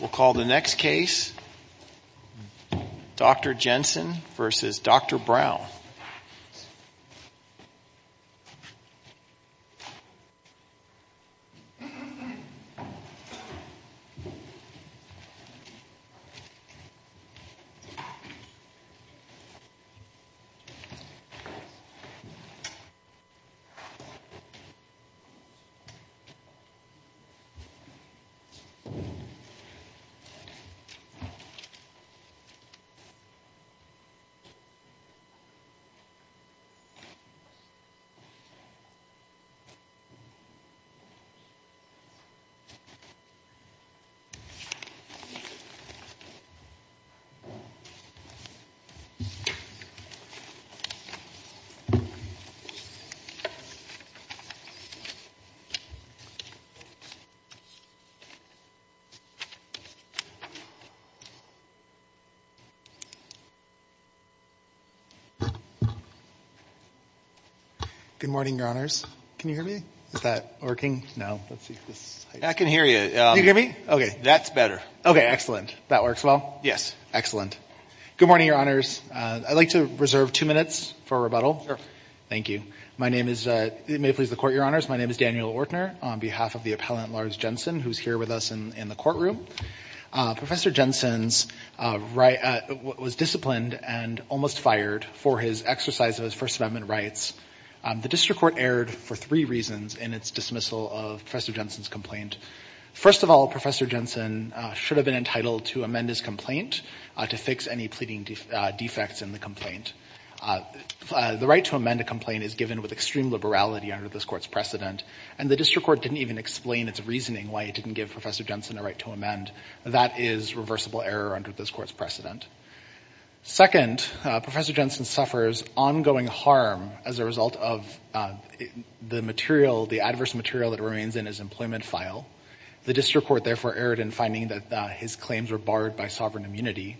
We'll call the next case, Dr. Jensen v. Dr. Brown. Dr. Jensen v. Brown. Good morning, Your Honors. I'd like to reserve two minutes for rebuttal. My name is Daniel Ortner, on behalf of the appellant Lars Jensen, who's here with us in the courtroom. Professor Jensen was disciplined and almost fired for his exercise of his First Amendment rights. The district court erred for three reasons in its dismissal of Professor Jensen's complaint. First of all, Professor Jensen should have been entitled to amend his complaint to fix any pleading defects in the complaint. The right to amend a complaint is given with extreme liberality under this court's precedent, and the district court didn't even explain its reasoning why it didn't give Professor Jensen a right to amend. That is reversible error under this court's precedent. Second, Professor Jensen suffers ongoing harm as a result of the adverse material that remains in his employment file. The district court therefore erred in finding that his claims were barred by sovereign immunity.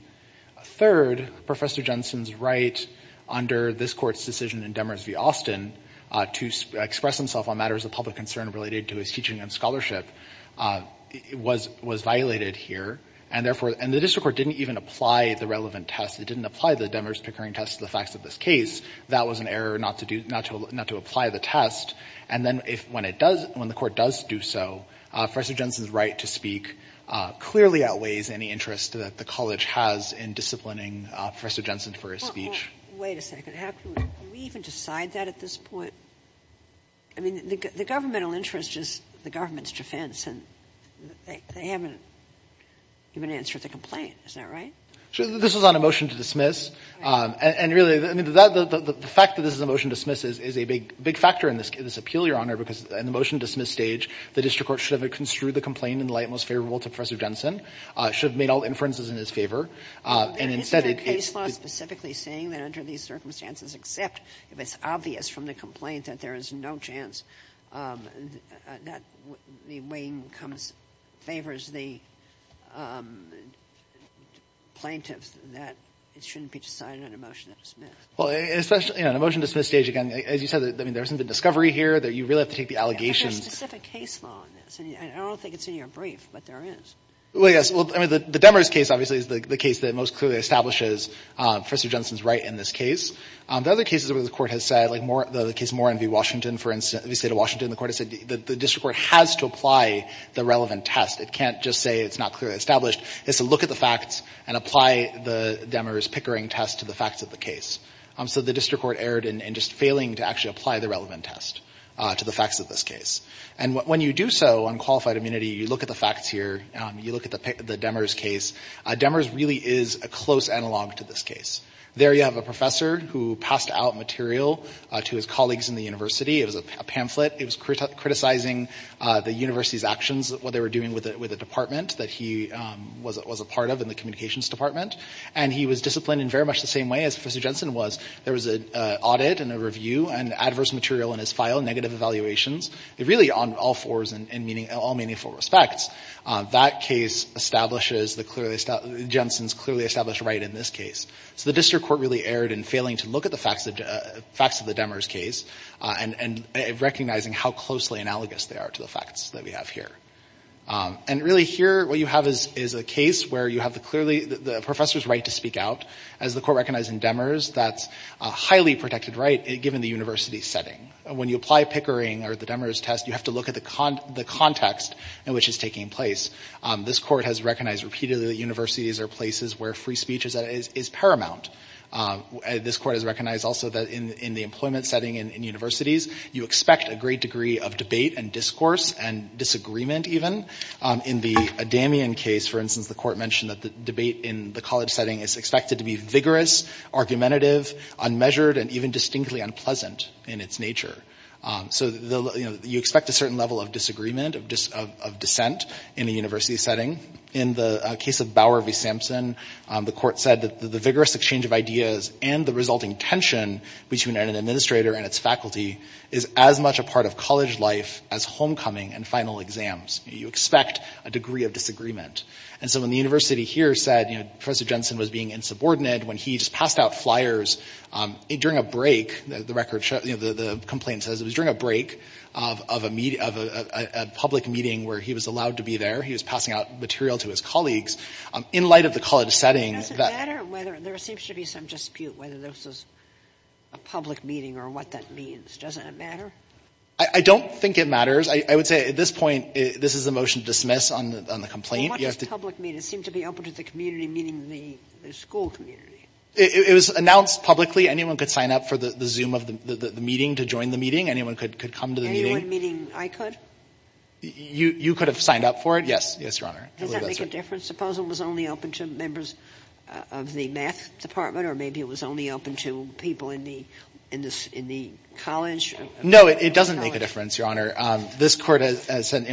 Third, Professor Jensen's right under this court's decision in Demers v. Austin to express himself on matters of public concern related to his teaching and scholarship was violated here, and the district court didn't even apply the relevant test. It didn't apply the Demers-Pickering test to the facts of this case. That was an error not to apply the test. And then when the court does do so, Professor Jensen's right to speak clearly outweighs any interest that the college has in disciplining Professor Jensen for his speech. Wait a second. Do we even decide that at this point? I mean, the governmental interest is the government's defense, and they haven't given an answer to the complaint. Is that right? This was on a motion to dismiss. And really, I mean, the fact that this is a motion to dismiss is a big factor in this appeal, Your Honor, because in the motion to dismiss stage, the district court should have construed the complaint in the light most favorable to Professor Jensen, should have made all inferences in his favor. Isn't the case law specifically saying that under these circumstances, except if it's obvious from the complaint that there is no chance that the weighing favors the plaintiffs, that it shouldn't be decided on a motion to dismiss? Well, in a motion to dismiss stage, again, as you said, I mean, there isn't a discovery here. You really have to take the allegations. But there's specific case law in this. I don't think it's in your brief, but there is. Well, yes. I mean, the Demers case, obviously, is the case that most clearly establishes Professor Jensen's right in this case. The other cases where the court has said, like the case Moore v. Washington, for instance, v. State of Washington, the court has said the district court has to apply the relevant test. It can't just say it's not clearly established. It has to look at the facts and apply the Demers Pickering test to the facts of the case. So the district court erred in just failing to actually apply the relevant test to the facts of this case. And when you do so on qualified immunity, you look at the facts here, you look at the Demers case. Demers really is a close analog to this case. There you have a professor who passed out material to his colleagues in the university. It was a pamphlet. It was criticizing the university's actions, what they were doing with the department that he was a part of in the communications department. And he was disciplined in very much the same way as Professor Jensen was. There was an audit and a review and adverse material in his file, negative evaluations. Really, on all fours in all meaningful respects, that case establishes Jensen's clearly established right in this case. So the district court really erred in failing to look at the facts of the Demers case and recognizing how closely analogous they are to the facts that we have here. And really here, what you have is a case where you have the professor's right to speak out. As the court recognized in Demers, that's a highly protected right given the university setting. When you apply Pickering or the Demers test, you have to look at the context in which it's taking place. This court has recognized repeatedly that universities are places where free speech is paramount. This court has recognized also that in the employment setting in universities, you expect a great degree of debate and discourse and disagreement even. In the Damien case, for instance, the court mentioned that the debate in the college setting is expected to be vigorous, argumentative, unmeasured, and even distinctly unpleasant in its nature. So you expect a certain level of disagreement, of dissent in a university setting. In the case of Bower v. Sampson, the court said that the vigorous exchange of ideas and the resulting tension between an administrator and its faculty is as much a part of college life as homecoming and final exams. You expect a degree of disagreement. And so when the university here said Professor Jensen was being insubordinate, when he just passed out flyers during a break, the complaint says it was during a break of a public meeting where he was allowed to be there. He was passing out material to his colleagues. In light of the college setting, that — Does it matter whether — there seems to be some dispute whether this is a public meeting or what that means. Doesn't it matter? I don't think it matters. I would say at this point, this is a motion to dismiss on the complaint. How much does public mean? It seemed to be open to the community meeting the school community. It was announced publicly. Anyone could sign up for the Zoom of the meeting to join the meeting. Anyone could come to the meeting. Anyone meeting I could? You could have signed up for it? Yes. Yes, Your Honor. Does that make a difference? Suppose it was only open to members of the math department or maybe it was only open to people in the college? No, it doesn't make a difference, Your Honor. This court has said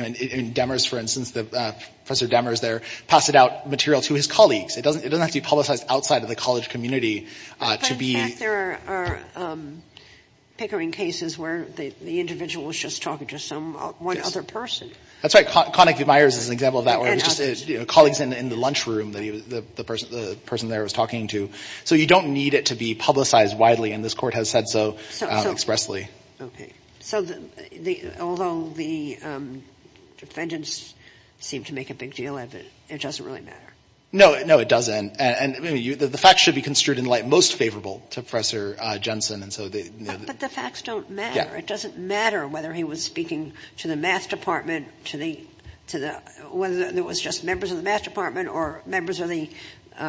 — Demers, for instance, Professor Demers there passed out material to his colleagues. It doesn't have to be publicized outside of the college community to be — In fact, there are pickering cases where the individual was just talking to one other person. That's right. Connick V. Myers is an example of that where it was just colleagues in the lunchroom that the person there was talking to. So you don't need it to be publicized widely, and this court has said so expressly. Okay. So although the defendants seem to make a big deal of it, it doesn't really matter? No, it doesn't. The facts should be construed in light most favorable to Professor Jensen. But the facts don't matter. It doesn't matter whether he was speaking to the math department, whether it was just members of the math department or members of the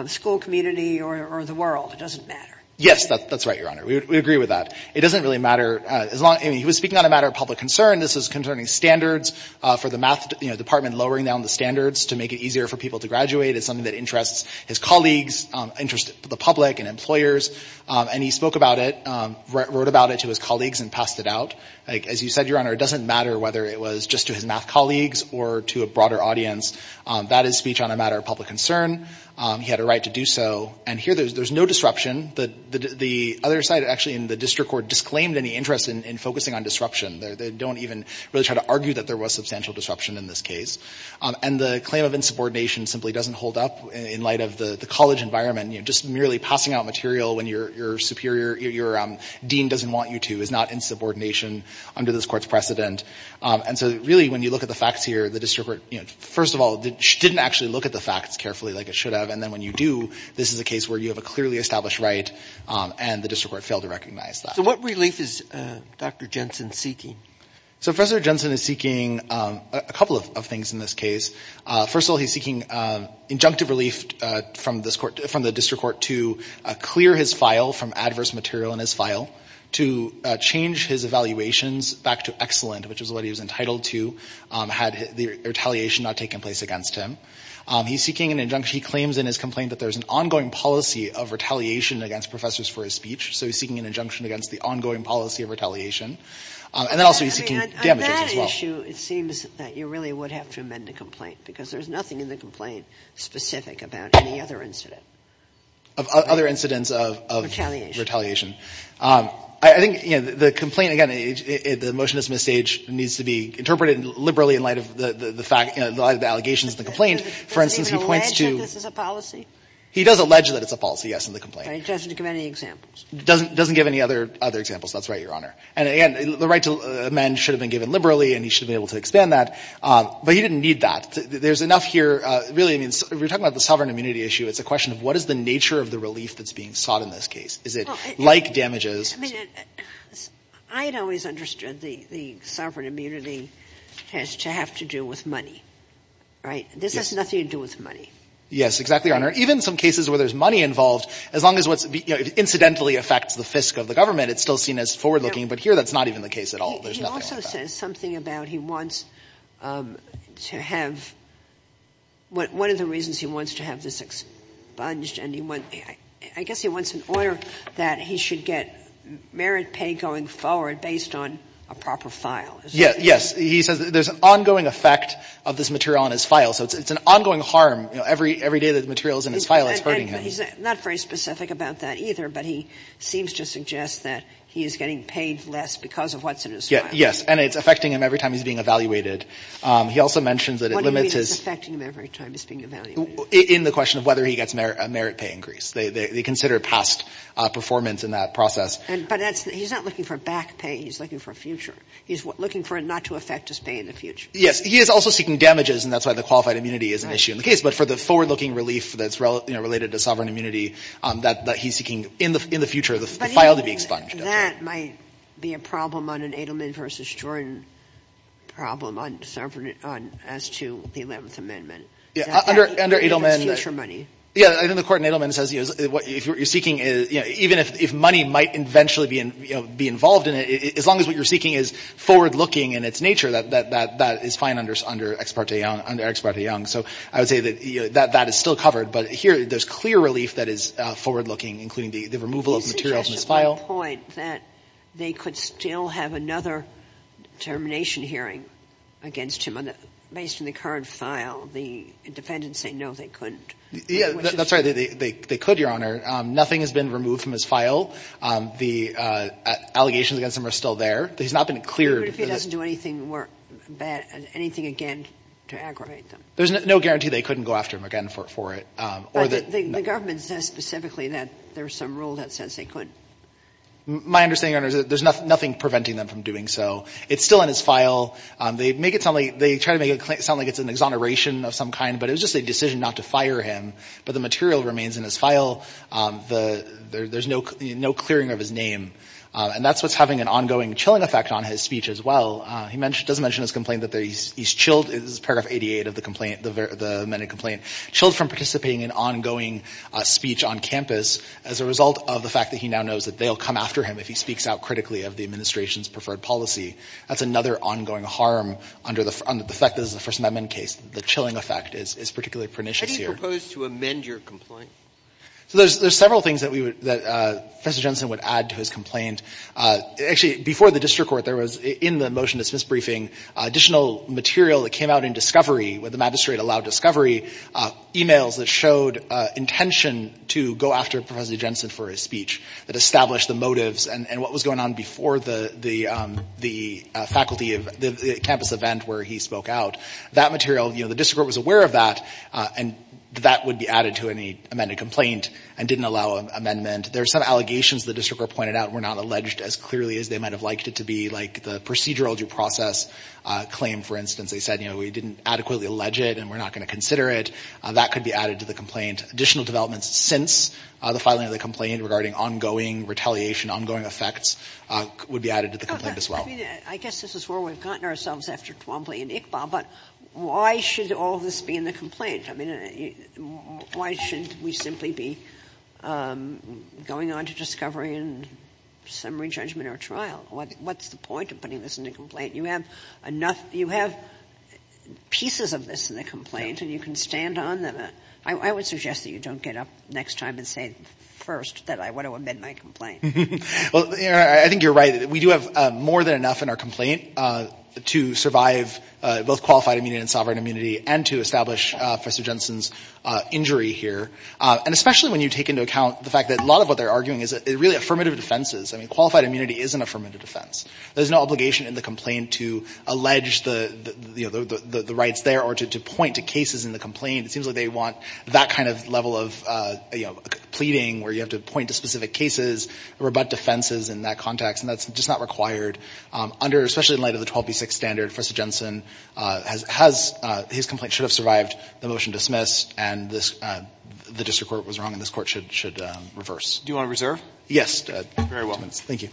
school community or the world. It doesn't matter. Yes, that's right, Your Honor. We agree with that. It doesn't really matter. He was speaking on a matter of public concern. This is concerning standards for the math department, lowering down the standards to make it easier for people to graduate. It's something that interests his colleagues, interests the public and employers. And he spoke about it, wrote about it to his colleagues and passed it out. As you said, Your Honor, it doesn't matter whether it was just to his math colleagues or to a broader audience. That is speech on a matter of public concern. He had a right to do so. And here there's no disruption. The other side actually in the district court disclaimed any interest in focusing on disruption. They don't even really try to argue that there was substantial disruption in this case. And the claim of insubordination simply doesn't hold up in light of the college environment. Just merely passing out material when your superior, your dean doesn't want you to is not insubordination under this court's precedent. And so really when you look at the facts here, the district court, first of all, didn't actually look at the facts carefully like it should have. And then when you do, this is a case where you have a clearly established right and the district court failed to recognize that. So what relief is Dr. Jensen seeking? So Professor Jensen is seeking a couple of things in this case. First of all, he's seeking injunctive relief from the district court to clear his file from adverse material in his file, to change his evaluations back to excellent, which is what he was entitled to had the retaliation not taken place against him. He's seeking an injunction. He claims in his complaint that there's an ongoing policy of retaliation against professors for his speech. So he's seeking an injunction against the ongoing policy of retaliation. And then also he's seeking damages as well. I mean, on that issue, it seems that you really would have to amend the complaint because there's nothing in the complaint specific about any other incident. Of other incidents of retaliation. I think, you know, the complaint, again, the motion is misstaged. It needs to be interpreted liberally in light of the fact, you know, the allegations in the complaint. For instance, he points to — Does it even allege that this is a policy? He does allege that it's a policy, yes, in the complaint. It doesn't give any examples. It doesn't give any other examples. That's right, Your Honor. And again, the right to amend should have been given liberally and he should have been able to expand that. But he didn't need that. There's enough here. Really, I mean, we're talking about the sovereign immunity issue. It's a question of what is the nature of the relief that's being sought in this case. Is it like damages? I mean, I had always understood the sovereign immunity has to have to do with money. Right? This has nothing to do with money. Yes, exactly, Your Honor. Even some cases where there's money involved, as long as what's incidentally affects the fisc of the government, it's still seen as forward-looking. But here that's not even the case at all. There's nothing like that. He also says something about he wants to have — one of the reasons he wants to have this expunged and he wants — I guess he wants an order that he should get merit pay going forward based on a proper file. Yes. He says there's an ongoing effect of this material on his file. So it's an ongoing harm. Every day that the material is in his file, it's hurting him. He's not very specific about that either, but he seems to suggest that he is getting paid less because of what's in his file. And it's affecting him every time he's being evaluated. He also mentions that it limits his — What do you mean it's affecting him every time he's being evaluated? In the question of whether he gets a merit pay increase. They consider past performance in that process. But that's — he's not looking for back pay. He's looking for a future. He's looking for it not to affect his pay in the future. Yes. He is also seeking damages, and that's why the qualified immunity is an issue in the case. But for the forward-looking relief that's, you know, related to sovereign immunity, that he's seeking in the future, the file to be expunged. But even then, that might be a problem on an Edelman v. Jordan problem on — as to the Eleventh Amendment. Under Edelman — Is that the case for money? Yeah. I think the court in Edelman says, you know, if you're seeking — you know, even if money might eventually be involved in it, as long as what you're seeking is forward-looking in its nature, that is fine under Ex parte Young. So I would say that that is still covered. But here, there's clear relief that is forward-looking, including the removal of material from his file. You suggested at one point that they could still have another termination hearing against him based on the current file. The defendants say, no, they couldn't. Yeah. That's right. They could, Your Honor. Nothing has been removed from his file. The allegations against him are still there. He's not been cleared. What if he doesn't do anything again to aggravate them? There's no guarantee they couldn't go after him again for it. But the government says specifically that there's some rule that says they couldn't. My understanding, Your Honor, is that there's nothing preventing them from doing so. It's still in his file. They make it sound like — they try to make it sound like it's an exoneration of some kind, but it was just a decision not to fire him. But the material remains in his file. There's no clearing of his name. And that's what's having an ongoing chilling effect on his speech as well. He does mention his complaint that he's chilled — this is paragraph 88 of the complaint, the amended complaint — chilled from participating in ongoing speech on campus as a result of the fact that he now knows that they'll come after him if he speaks out critically of the administration's preferred policy. That's another ongoing harm under the fact that this is a First Amendment case. The chilling effect is particularly pernicious here. How do you propose to amend your complaint? So there's several things that we would — that Professor Jensen would add to his complaint. Actually, before the district court, there was, in the motion to Smith's briefing, additional material that came out in Discovery, where the magistrate allowed Discovery, emails that showed intention to go after Professor Jensen for his speech, that established the motives and what was going on before the faculty of — the campus event where he spoke out. That material, you know, the district court was aware of that, and that would be added to any amended complaint and didn't allow an amendment. There are some allegations the district court pointed out were not alleged as clearly as they might have liked it to be, like the procedural due process claim, for instance. They said, you know, we didn't adequately allege it and we're not going to consider it. That could be added to the complaint. Additional developments since the filing of the complaint regarding ongoing retaliation, ongoing effects, would be added to the complaint as well. I mean, I guess this is where we've gotten ourselves after Twombly and Iqbal, but why should all this be in the complaint? I mean, why shouldn't we simply be going on to Discovery and summary judgment or trial? What's the point of putting this in the complaint? You have enough — you have pieces of this in the complaint and you can stand on them. I would suggest that you don't get up next time and say first that I want to amend my complaint. Well, I think you're right. We do have more than enough in our complaint to survive both qualified immunity and sovereign immunity and to establish Professor Jensen's injury here. And especially when you take into account the fact that a lot of what they're arguing is really affirmative defenses. I mean, qualified immunity is an affirmative defense. There's no obligation in the complaint to allege the rights there or to point to cases in the complaint. It seems like they want that kind of level of pleading where you have to point to specific cases, rebut defenses in that context, and that's just not required under — especially in light of the 12B6 standard. Professor Jensen has — his complaint should have survived the motion dismissed and this — the district court was wrong and this court should reverse. Do you want to reserve? Yes. Very well. Thank you.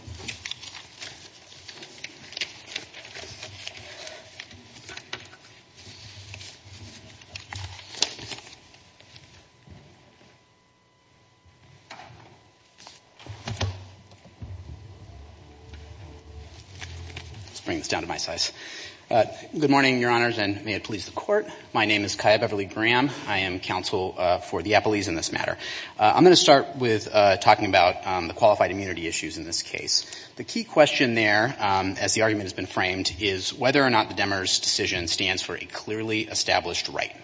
Let's bring this down to my size. Good morning, Your Honors, and may it please the Court. My name is Kaya Beverly Graham. I am counsel for the Appellees in this matter. I'm going to start with talking about the qualified immunity issues in this case. The key question there, as the argument has been framed, is whether or not the Demers decision stands for a clearly established right.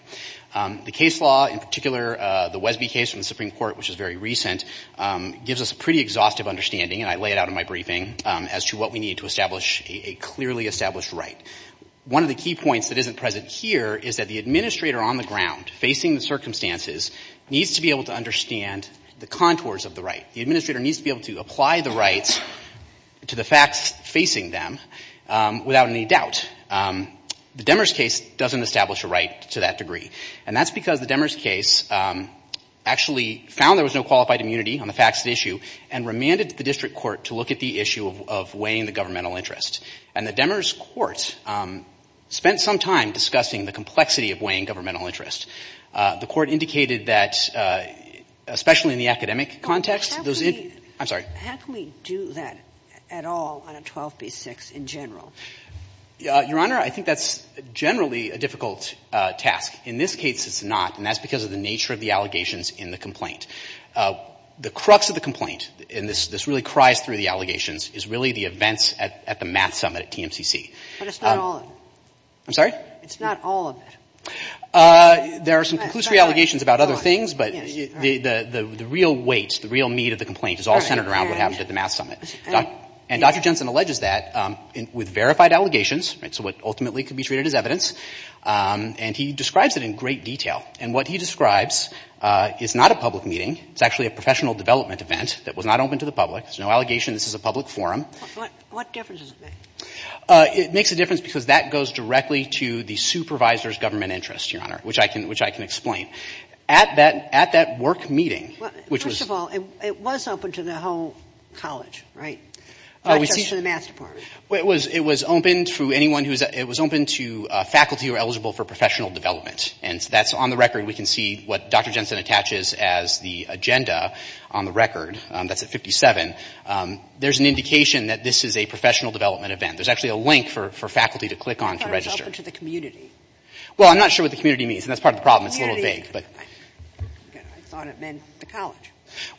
The case law, in particular the Wesby case from the Supreme Court, which is very recent, gives us a pretty exhaustive understanding, and I lay it out in my briefing, as to what we need to establish a clearly established right. One of the key points that isn't present here is that the administrator on the ground, facing the circumstances, needs to be able to understand the contours of the right. The administrator needs to be able to apply the rights to the facts facing them without any doubt. The Demers case doesn't establish a right to that degree, and that's because the Demers case actually found there was no qualified immunity on the facts at issue and remanded the district court to look at the issue of weighing the governmental interest. And the Demers court spent some time discussing the complexity of weighing governmental interest. The court indicated that, especially in the academic context, those interests How can we do that at all on a 12b-6 in general? Your Honor, I think that's generally a difficult task. In this case, it's not, and that's because of the nature of the allegations in the complaint. The crux of the complaint, and this really cries through the allegations, is really the events at the math summit at TMCC. But it's not all of it. I'm sorry? It's not all of it. There are some conclusory allegations about other things, but the real weight, the real meat of the complaint is all centered around what happened at the math summit. And Dr. Jensen alleges that with verified allegations, so what ultimately could be treated as evidence, and he describes it in great detail. And what he describes is not a public meeting. It's actually a professional development event that was not open to the public. There's no allegation. This is a public forum. What difference does it make? It makes a difference because that goes directly to the supervisor's government interest, Your Honor, which I can explain. At that work meeting, which was First of all, it was open to the whole college, right? Not just to the math department. It was open to faculty who were eligible for professional development. And that's on the record. We can see what Dr. Jensen attaches as the agenda on the record. That's at 57. There's an indication that this is a professional development event. There's actually a link for faculty to click on to register. It's open to the community. Well, I'm not sure what the community means, and that's part of the problem. It's a little vague. I thought it meant the college.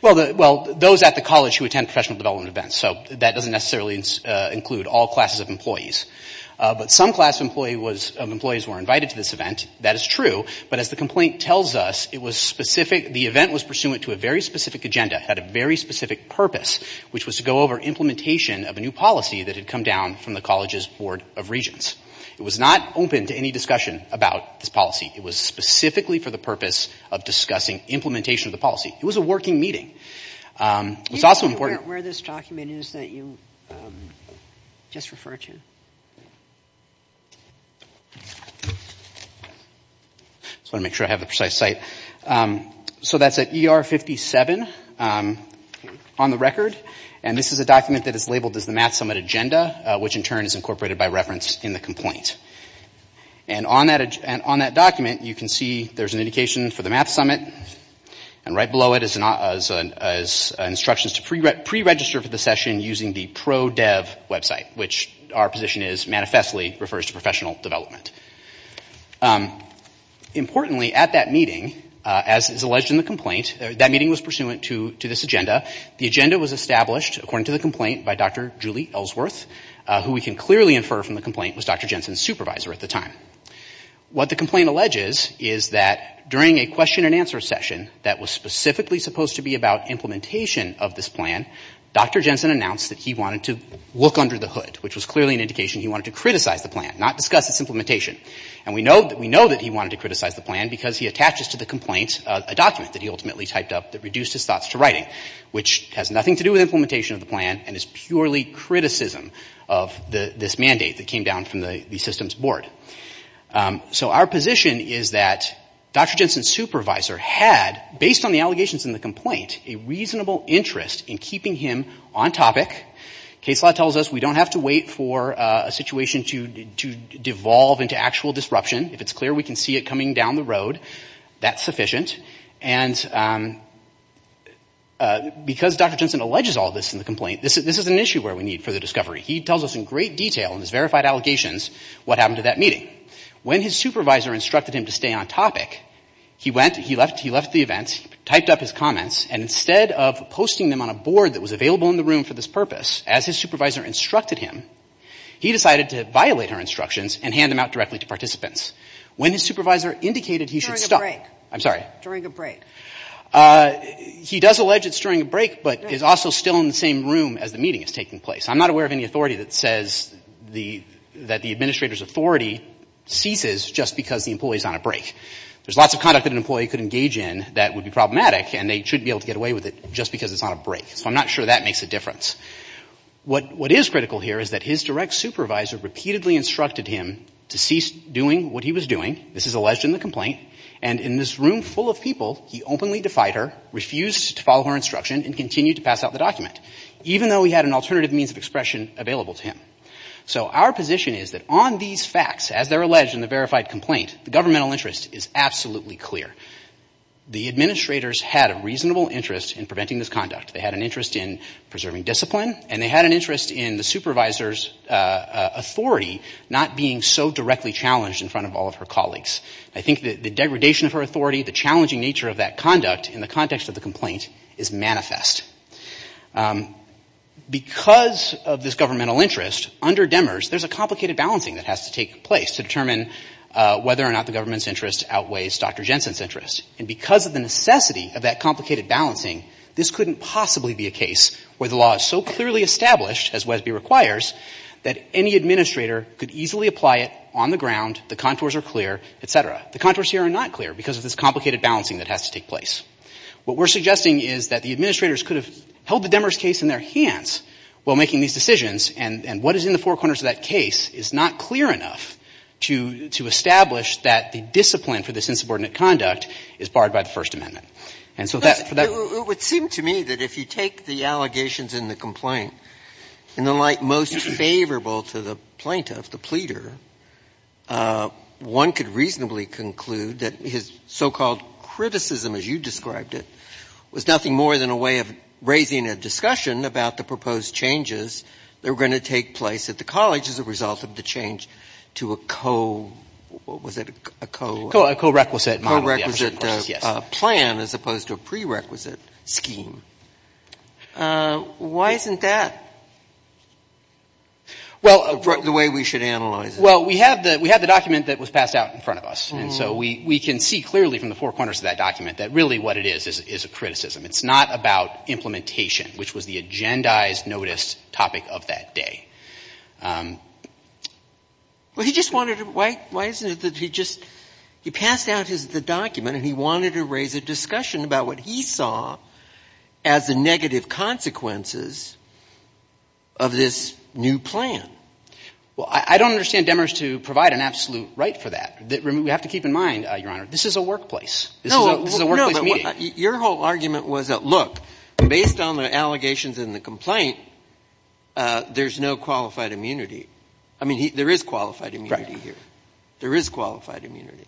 Well, those at the college who attend professional development events. So that doesn't necessarily include all classes of employees. But some class of employees were invited to this event. That is true. But as the complaint tells us, it was specific. The event was pursuant to a very specific agenda. It had a very specific purpose, which was to go over implementation of a new policy that had come down from the college's Board of Regents. It was not open to any discussion about this policy. It was specifically for the purpose of discussing implementation of the policy. It was a working meeting. It was also important. I don't know where this document is that you just referred to. I just want to make sure I have the precise site. So that's at ER 57 on the record. And this is a document that is labeled as the Math Summit Agenda, which in turn is incorporated by reference in the complaint. And on that document, you can see there's an indication for the Math Summit. And right below it is instructions to pre-register for the session using the ProDev website, which our position is, manifestly refers to professional development. Importantly, at that meeting, as is alleged in the complaint, that meeting was pursuant to this agenda. The agenda was established, according to the complaint, by Dr. Julie Ellsworth, who we can clearly infer from the complaint was Dr. Jensen's supervisor at the time. What the complaint alleges is that during a question and answer session that was specifically supposed to be about implementation of this plan, Dr. Jensen announced that he wanted to look under the hood, which was clearly an indication he wanted to criticize the plan, not discuss its implementation. And we know that he wanted to criticize the plan because he attaches to the complaint a document that he ultimately typed up that reduced his thoughts to writing, which has nothing to do with implementation of the plan and is purely criticism of this mandate that came down from the systems board. So our position is that Dr. Jensen's supervisor had, based on the allegations in the complaint, a reasonable interest in keeping him on topic. Case law tells us we don't have to wait for a situation to devolve into actual disruption. If it's clear we can see it coming down the road, that's sufficient. And because Dr. Jensen alleges all this in the complaint, this is an issue where we need further discovery. He tells us in great detail in his verified allegations what happened at that meeting. When his supervisor instructed him to stay on topic, he left the event, typed up his comments, and instead of posting them on a board that was available in the room for this purpose, as his supervisor instructed him, he decided to violate her instructions and hand them out directly to participants. When his supervisor indicated he should stop... During a break. I'm sorry. During a break. He does allege it's during a break, but is also still in the same room as the meeting is taking place. I'm not aware of any authority that says that the administrator's authority ceases just because the employee's on a break. There's lots of conduct that an employee could engage in that would be problematic, and they shouldn't be able to get away with it just because it's on a break. So I'm not sure that makes a difference. What is critical here is that his direct supervisor repeatedly instructed him to cease doing what he was doing. This is alleged in the complaint. And in this room full of people, he openly defied her, refused to follow her instruction, and continued to pass out the document, even though he had an alternative means of expression available to him. So our position is that on these facts, as they're alleged in the verified complaint, the governmental interest is absolutely clear. The administrators had a reasonable interest in preventing this conduct. They had an interest in preserving discipline, and they had an interest in the supervisor's authority not being so directly challenged in front of all of her colleagues. I think that the degradation of her authority, the challenging nature of that conduct in the context of the complaint is manifest. Because of this governmental interest, under Demers there's a complicated balancing that has to take place to determine whether or not the government's interest outweighs Dr. Jensen's interest. And because of the necessity of that complicated balancing, this couldn't possibly be a case where the law is so clearly established, as Wesby requires, that any administrator could easily apply it on the ground, the contours are clear, et cetera. The contours here are not clear because of this complicated balancing that has to take place. What we're suggesting is that the administrators could have held the Demers case in their hands while making these decisions, and what is in the four corners of that case is not clear enough to establish that the discipline for this insubordinate conduct is barred by the First Amendment. And so that for that ---- It would seem to me that if you take the allegations in the complaint in the light most favorable to the plaintiff, the pleader, one could reasonably conclude that his so-called criticism, as you described it, was nothing more than a way of raising a discussion about the proposed changes that were going to take place at the college as a result of the change to a co- What was it? A co- A co-requisite model. A co-requisite plan as opposed to a prerequisite scheme. Why isn't that? Well, the way we should analyze it. Well, we have the document that was passed out in front of us, and so we can see clearly from the four corners of that document that really what it is is a criticism. It's not about implementation, which was the agendized notice topic of that day. Well, he just wanted to ---- Why isn't it that he just ---- He passed out the document, and he wanted to raise a discussion about what he saw as the negative consequences of this new plan. Well, I don't understand Demers to provide an absolute right for that. We have to keep in mind, Your Honor, this is a workplace. This is a workplace meeting. No, but your whole argument was that, look, based on the allegations in the complaint, there's no qualified immunity. I mean, there is qualified immunity here. There is qualified immunity.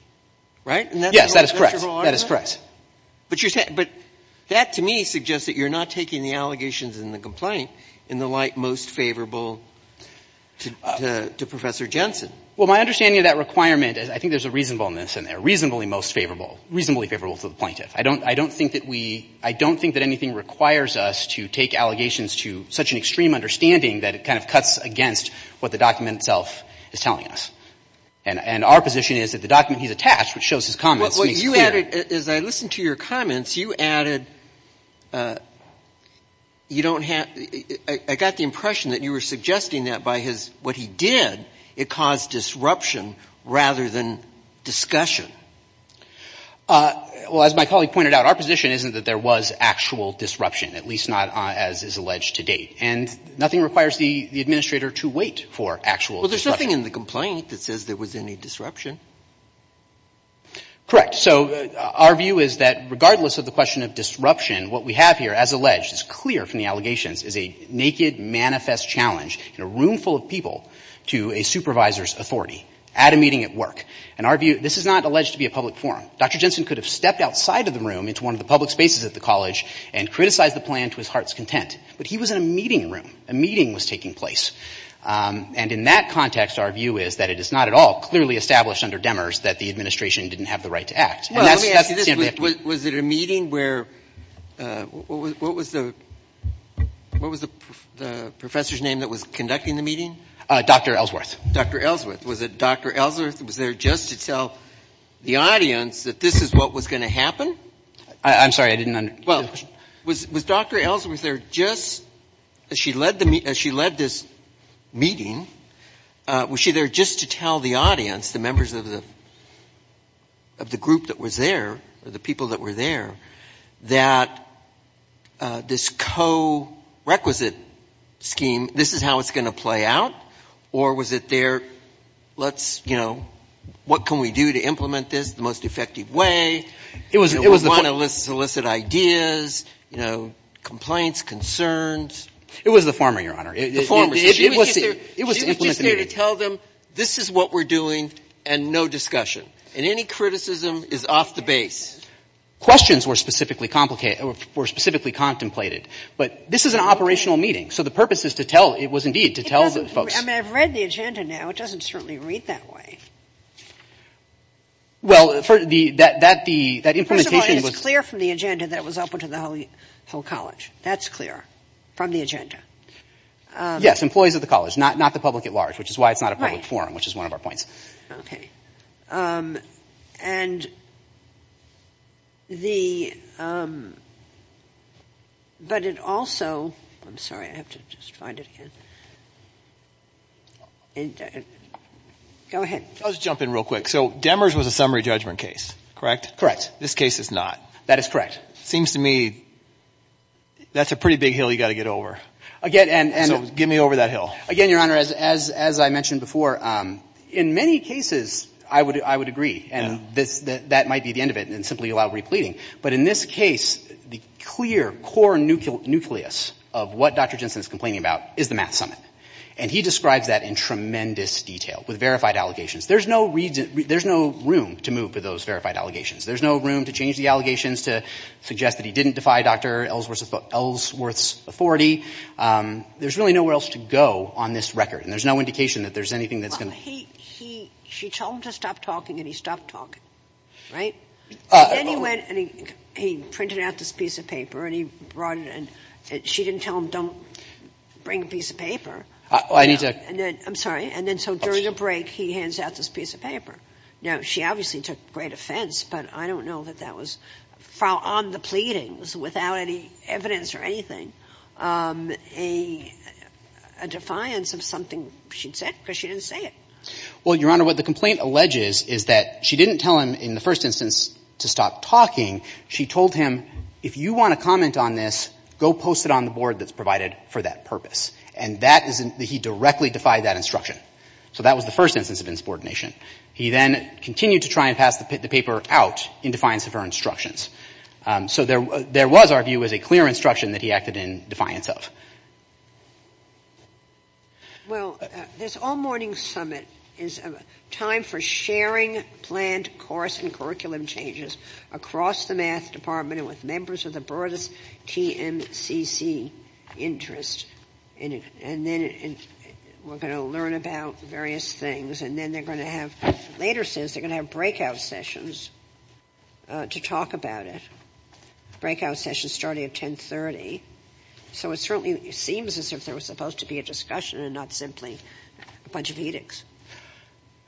Right? Yes, that is correct. That is correct. But that to me suggests that you're not taking the allegations in the complaint in the light most favorable to Professor Jensen. Well, my understanding of that requirement is I think there's a reasonableness in there, reasonably most favorable, reasonably favorable to the plaintiff. I don't think that we ---- I don't think that anything requires us to take allegations to such an extreme understanding that it kind of cuts against what the document itself is telling us. And our position is that the document he's attached, which shows his comments, makes clear ---- Well, you added, as I listened to your comments, you added you don't have ---- I got the impression that you were suggesting that by his ---- what he did, it caused disruption rather than discussion. Well, as my colleague pointed out, our position isn't that there was actual disruption, at least not as is alleged to date. And nothing requires the Administrator to wait for actual disruption. Well, there's nothing in the complaint that says there was any disruption. Correct. So our view is that regardless of the question of disruption, what we have here, as alleged, is clear from the allegations, is a naked manifest challenge in a room full of people to a supervisor's authority at a meeting at work. And our view, this is not alleged to be a public forum. Dr. Jensen could have stepped outside of the room into one of the public spaces at the college and criticized the plan to his heart's content. But he was in a meeting room. A meeting was taking place. And in that context, our view is that it is not at all clearly established under Demers that the Administration didn't have the right to act. Well, let me ask you this. Was it a meeting where ---- what was the professor's name that was conducting the meeting? Dr. Ellsworth. Dr. Ellsworth. Was it Dr. Ellsworth was there just to tell the audience that this is what was going to happen? I'm sorry. I didn't understand. Was Dr. Ellsworth there just as she led this meeting, was she there just to tell the audience, the members of the group that was there or the people that were there, that this co-requisite scheme, this is how it's going to play out? Or was it there, let's, you know, what can we do to implement this the most effective way? It was the former. You know, we want to solicit ideas, you know, complaints, concerns. It was the former, Your Honor. The former. She was just there to tell them this is what we're doing and no discussion. And any criticism is off the base. Questions were specifically contemplated. But this is an operational meeting. So the purpose is to tell, it was indeed to tell folks. I mean, I've read the agenda now. It doesn't certainly read that way. Well, that implementation was. First of all, it's clear from the agenda that it was open to the whole college. That's clear from the agenda. Yes, employees of the college, not the public at large, which is why it's not a public forum, which is one of our points. Okay. And the, but it also, I'm sorry, I have to just find it again. Go ahead. I'll just jump in real quick. So Demers was a summary judgment case, correct? Correct. This case is not. That is correct. It seems to me that's a pretty big hill you've got to get over. Again, and. So get me over that hill. Again, Your Honor, as I mentioned before, in many cases I would agree. And that might be the end of it and simply allow repleting. But in this case, the clear core nucleus of what Dr. Jensen is complaining about is the math summit. And he describes that in tremendous detail with verified allegations. There's no room to move to those verified allegations. There's no room to change the allegations to suggest that he didn't defy Dr. Ellsworth's authority. There's really nowhere else to go on this record. And there's no indication that there's anything that's going to. He, she told him to stop talking and he stopped talking, right? Then he went and he printed out this piece of paper and he brought it and she didn't tell him don't bring a piece of paper. I need to. I'm sorry. And then so during a break he hands out this piece of paper. Now, she obviously took great offense, but I don't know that that was, on the pleadings, without any evidence or anything, a defiance of something she'd said because she didn't say it. Well, Your Honor, what the complaint alleges is that she didn't tell him in the first instance to stop talking. She told him, if you want to comment on this, go post it on the board that's provided for that purpose. And that is that he directly defied that instruction. So that was the first instance of insubordination. He then continued to try and pass the paper out in defiance of her instructions. So there was, our view, was a clear instruction that he acted in defiance of. Well, this all-morning summit is a time for sharing planned course and curriculum changes across the math department and with members of the broadest TMCC interest. And then we're going to learn about various things. And then they're going to have, later, they're going to have breakout sessions to talk about it, breakout sessions starting at 1030. So it certainly seems as if there was supposed to be a discussion and not simply a bunch of edicts.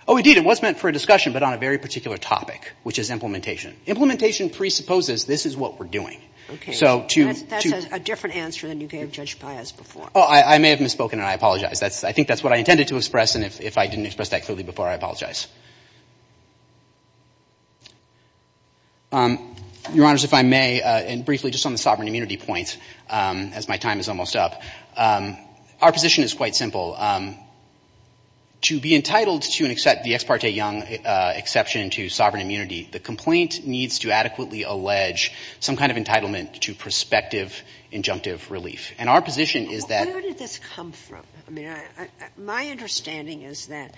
Oh, indeed. It was meant for a discussion, but on a very particular topic, which is implementation. Implementation presupposes this is what we're doing. Okay. So to — That's a different answer than you gave Judge Pius before. Oh, I may have misspoken, and I apologize. I think that's what I intended to express, and if I didn't express that clearly before, I apologize. Your Honors, if I may, and briefly, just on the sovereign immunity point, as my time is almost up. Our position is quite simple. To be entitled to and accept the Ex parte Young exception to sovereign immunity, the complaint needs to adequately allege some kind of entitlement to prospective injunctive relief. And our position is that — Where did this come from? I mean, my understanding is that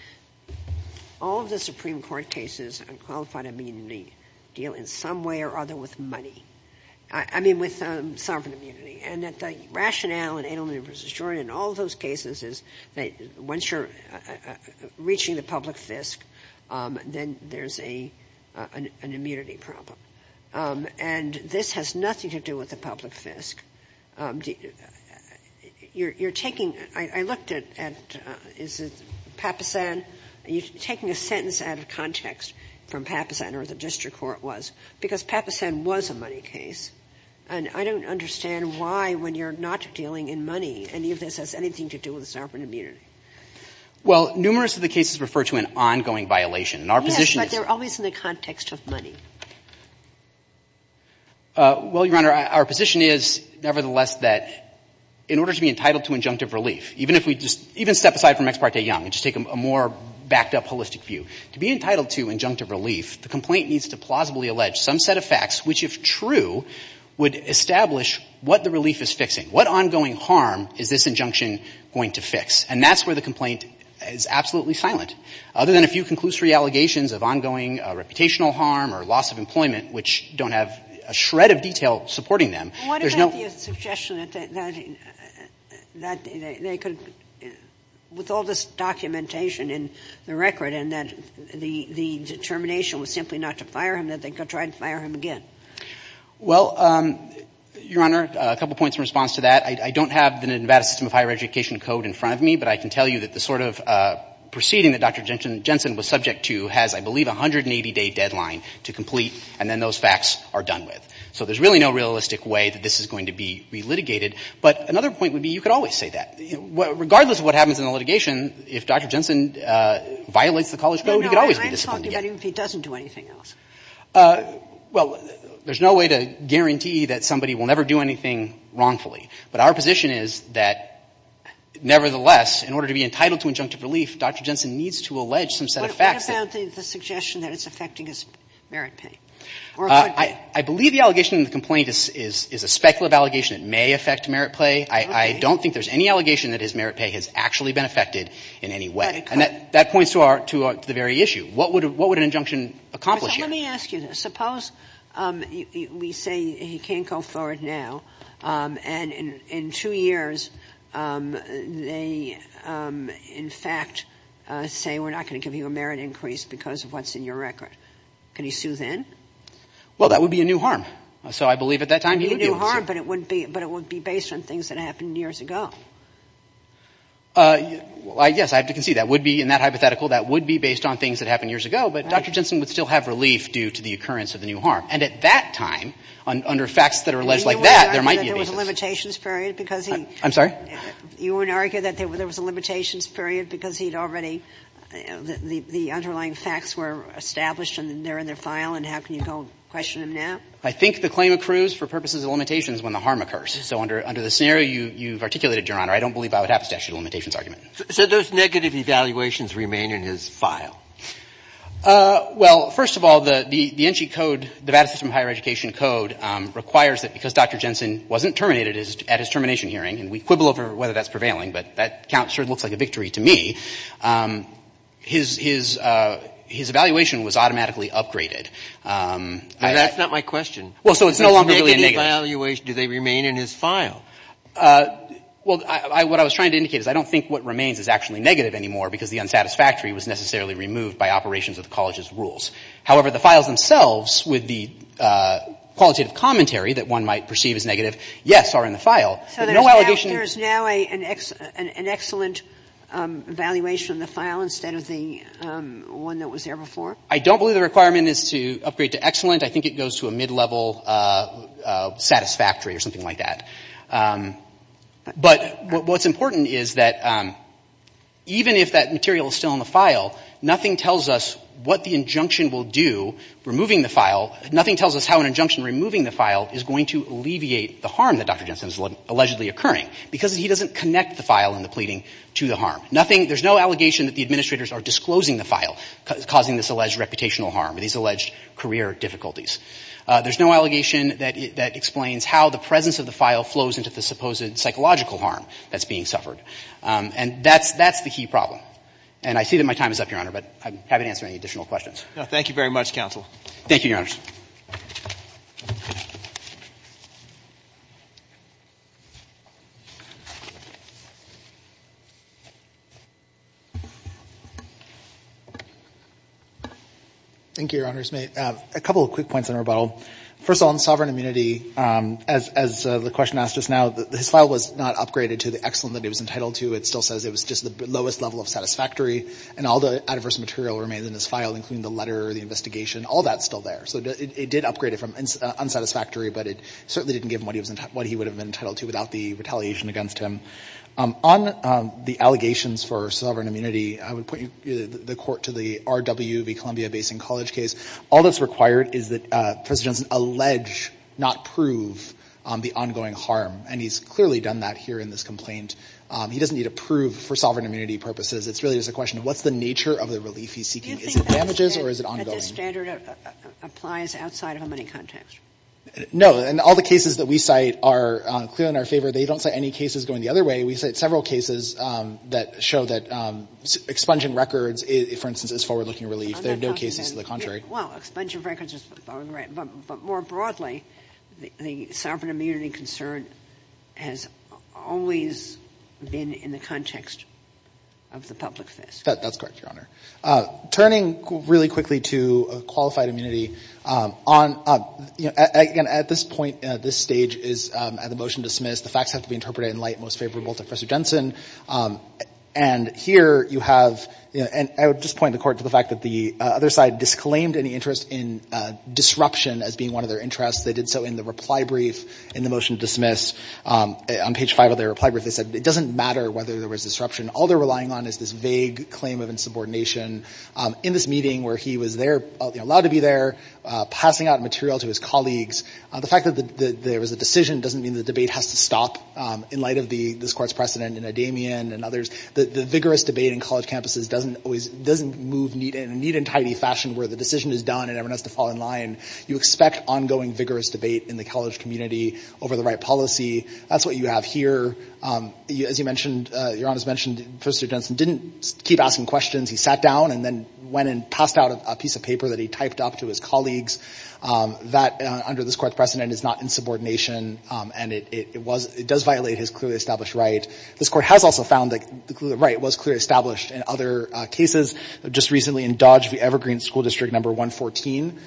all of the Supreme Court cases on qualified immunity deal in some way or other with money. I mean, with sovereign immunity. And that the rationale in Adelman v. Jordan and all those cases is that once you're reaching the public fisc, then there's an immunity problem. And this has nothing to do with the public fisc. You're taking — I looked at — is it Papasan? You're taking a sentence out of context from Papasan or the district court was, because Papasan was a money case. And I don't understand why, when you're not dealing in money, any of this has anything to do with sovereign immunity. Well, numerous of the cases refer to an ongoing violation, and our position is — Yes, but they're always in the context of money. Well, Your Honor, our position is, nevertheless, that in order to be entitled to injunctive relief, even if we just — even step aside from Ex parte Young and just take a more backed-up, holistic view, to be entitled to injunctive relief, the complaint needs to plausibly allege some set of facts, which, if true, would establish what the relief is fixing. What ongoing harm is this injunction going to fix? And that's where the complaint is absolutely silent. Other than a few conclusory allegations of ongoing reputational harm or loss of employment, which don't have a shred of detail supporting them, there's no — What about the suggestion that they could — with all this documentation and the record and that the determination was simply not to fire him, that they could try to fire him again? Well, Your Honor, a couple points in response to that. I don't have the Nevada System of Higher Education code in front of me, but I can tell you that the sort of proceeding that Dr. Jensen was subject to has, I believe, a 180-day deadline to complete, and then those facts are done with. So there's really no realistic way that this is going to be relitigated. But another point would be you could always say that. Regardless of what happens in the litigation, if Dr. Jensen violates the college code, he could always be disciplined again. No, no, I'm talking about even if he doesn't do anything else. Well, there's no way to guarantee that somebody will never do anything wrongfully. But our position is that, nevertheless, in order to be entitled to injunctive relief, Dr. Jensen needs to allege some set of facts that — What about the suggestion that it's affecting his merit pay? I believe the allegation in the complaint is a speculative allegation. It may affect merit pay. I don't think there's any allegation that his merit pay has actually been affected in any way. And that points to our — to the very issue. What would an injunction accomplish here? Let me ask you this. Suppose we say he can't go forward now, and in two years they, in fact, say we're not going to give you a merit increase because of what's in your record. Can he sue then? Well, that would be a new harm. So I believe at that time he would be able to sue. A new harm, but it wouldn't be — but it would be based on things that happened years ago. Yes, I have to concede that would be, in that hypothetical, that would be based on things that happened years ago. But Dr. Jensen would still have relief due to the occurrence of the new harm. And at that time, under facts that are alleged like that, there might be a basis. And you wouldn't argue that there was a limitations period because he — I'm sorry? You wouldn't argue that there was a limitations period because he'd already — the underlying facts were established and they're in their file, and how can you go question him now? I think the claim accrues for purposes of limitations when the harm occurs. So under the scenario you've articulated, Your Honor, I don't believe I would have a statute of limitations argument. So those negative evaluations remain in his file? Well, first of all, the NG code, the Vada system of higher education code, requires that because Dr. Jensen wasn't terminated at his termination hearing, and we quibble over whether that's prevailing, but that count certainly looks like a victory to me, his evaluation was automatically upgraded. That's not my question. Well, so it's no longer really a negative. Negative evaluation, do they remain in his file? Well, what I was trying to indicate is I don't think what remains is actually negative anymore because the unsatisfactory was necessarily removed by operations of the college's rules. However, the files themselves, with the qualitative commentary that one might perceive as negative, yes, are in the file. So there's now an excellent evaluation in the file instead of the one that was there before? I don't believe the requirement is to upgrade to excellent. I think it goes to a mid-level satisfactory or something like that. But what's important is that even if that material is still in the file, nothing tells us what the injunction will do removing the file. Nothing tells us how an injunction removing the file is going to alleviate the harm that Dr. Jensen is allegedly occurring because he doesn't connect the file and the pleading to the harm. There's no allegation that the administrators are disclosing the file, causing this alleged reputational harm, these alleged career difficulties. There's no allegation that explains how the presence of the file flows into the supposed psychological harm that's being suffered. And that's the key problem. And I see that my time is up, Your Honor, but I'm happy to answer any additional questions. Thank you very much, counsel. Thank you, Your Honors. Thank you, Your Honors. A couple of quick points on rebuttal. First of all, on sovereign immunity, as the question asked us now, his file was not upgraded to the excellent that he was entitled to. It still says it was just the lowest level of satisfactory. And all the adverse material remains in his file, including the letter, the All that's still there. So it did upgrade it from unsatisfactory, but it certainly didn't give him what he would have been entitled to without the retaliation against him. On the allegations for sovereign immunity, I would point the court to the RWV Columbia Basin College case. All that's required is that President Johnson allege, not prove, the ongoing harm. And he's clearly done that here in this complaint. He doesn't need to prove for sovereign immunity purposes. It really is a question of what's the nature of the relief he's seeking. Is it damages or is it ongoing? Do you think that this standard applies outside of a money context? No. And all the cases that we cite are clearly in our favor. They don't cite any cases going the other way. We cite several cases that show that expunging records, for instance, is a forward-looking relief. There are no cases to the contrary. Well, expunging records is fine. But more broadly, the sovereign immunity concern has always been in the context of the public face. That's correct, Your Honor. Turning really quickly to qualified immunity, again, at this point, this stage is at the motion dismissed. The facts have to be interpreted in light most favorable to Professor Jensen. And here you have, and I would just point the court to the fact that the other side disclaimed any interest in disruption as being one of their interests. They did so in the reply brief in the motion dismissed. On page five of their reply brief, they said it doesn't matter whether there was disruption. All they're relying on is this vague claim of insubordination. In this meeting where he was there, allowed to be there, passing out material to his colleagues, the fact that there was a decision doesn't mean the debate has to stop in light of this court's precedent in Adamian and others. The vigorous debate in college campuses doesn't move in a neat and tidy fashion where the decision is done and everyone has to fall in line. You expect ongoing vigorous debate in the college community over the right policy. That's what you have here. As Your Honor has mentioned, Professor Jensen didn't keep asking questions. He sat down and then went and passed out a piece of paper that he typed up to his colleagues. That, under this court's precedent, is not insubordination and it does violate his clearly established right. This court has also found that the right was clearly established in other cases. Just recently in Dodge v. Evergreen School District No. 114,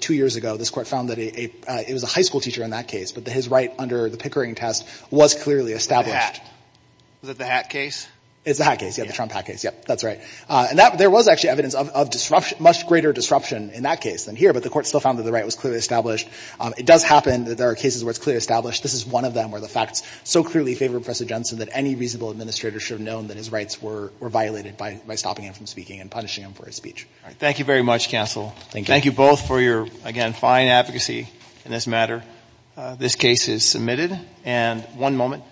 two years ago, this court found that it was a high school teacher in that case. But his right under the Pickering test was clearly established. The hat. Was it the hat case? It's the hat case. Yeah, the Trump hat case. Yep, that's right. And there was actually evidence of much greater disruption in that case than here, but the court still found that the right was clearly established. It does happen that there are cases where it's clearly established. This is one of them where the facts so clearly favor Professor Jensen that any reasonable administrator should have known that his rights were violated by stopping him from speaking and punishing him for his speech. Thank you very much, counsel. Thank you. Thank you both for your, again, fine advocacy in this matter. This case is submitted. And one moment.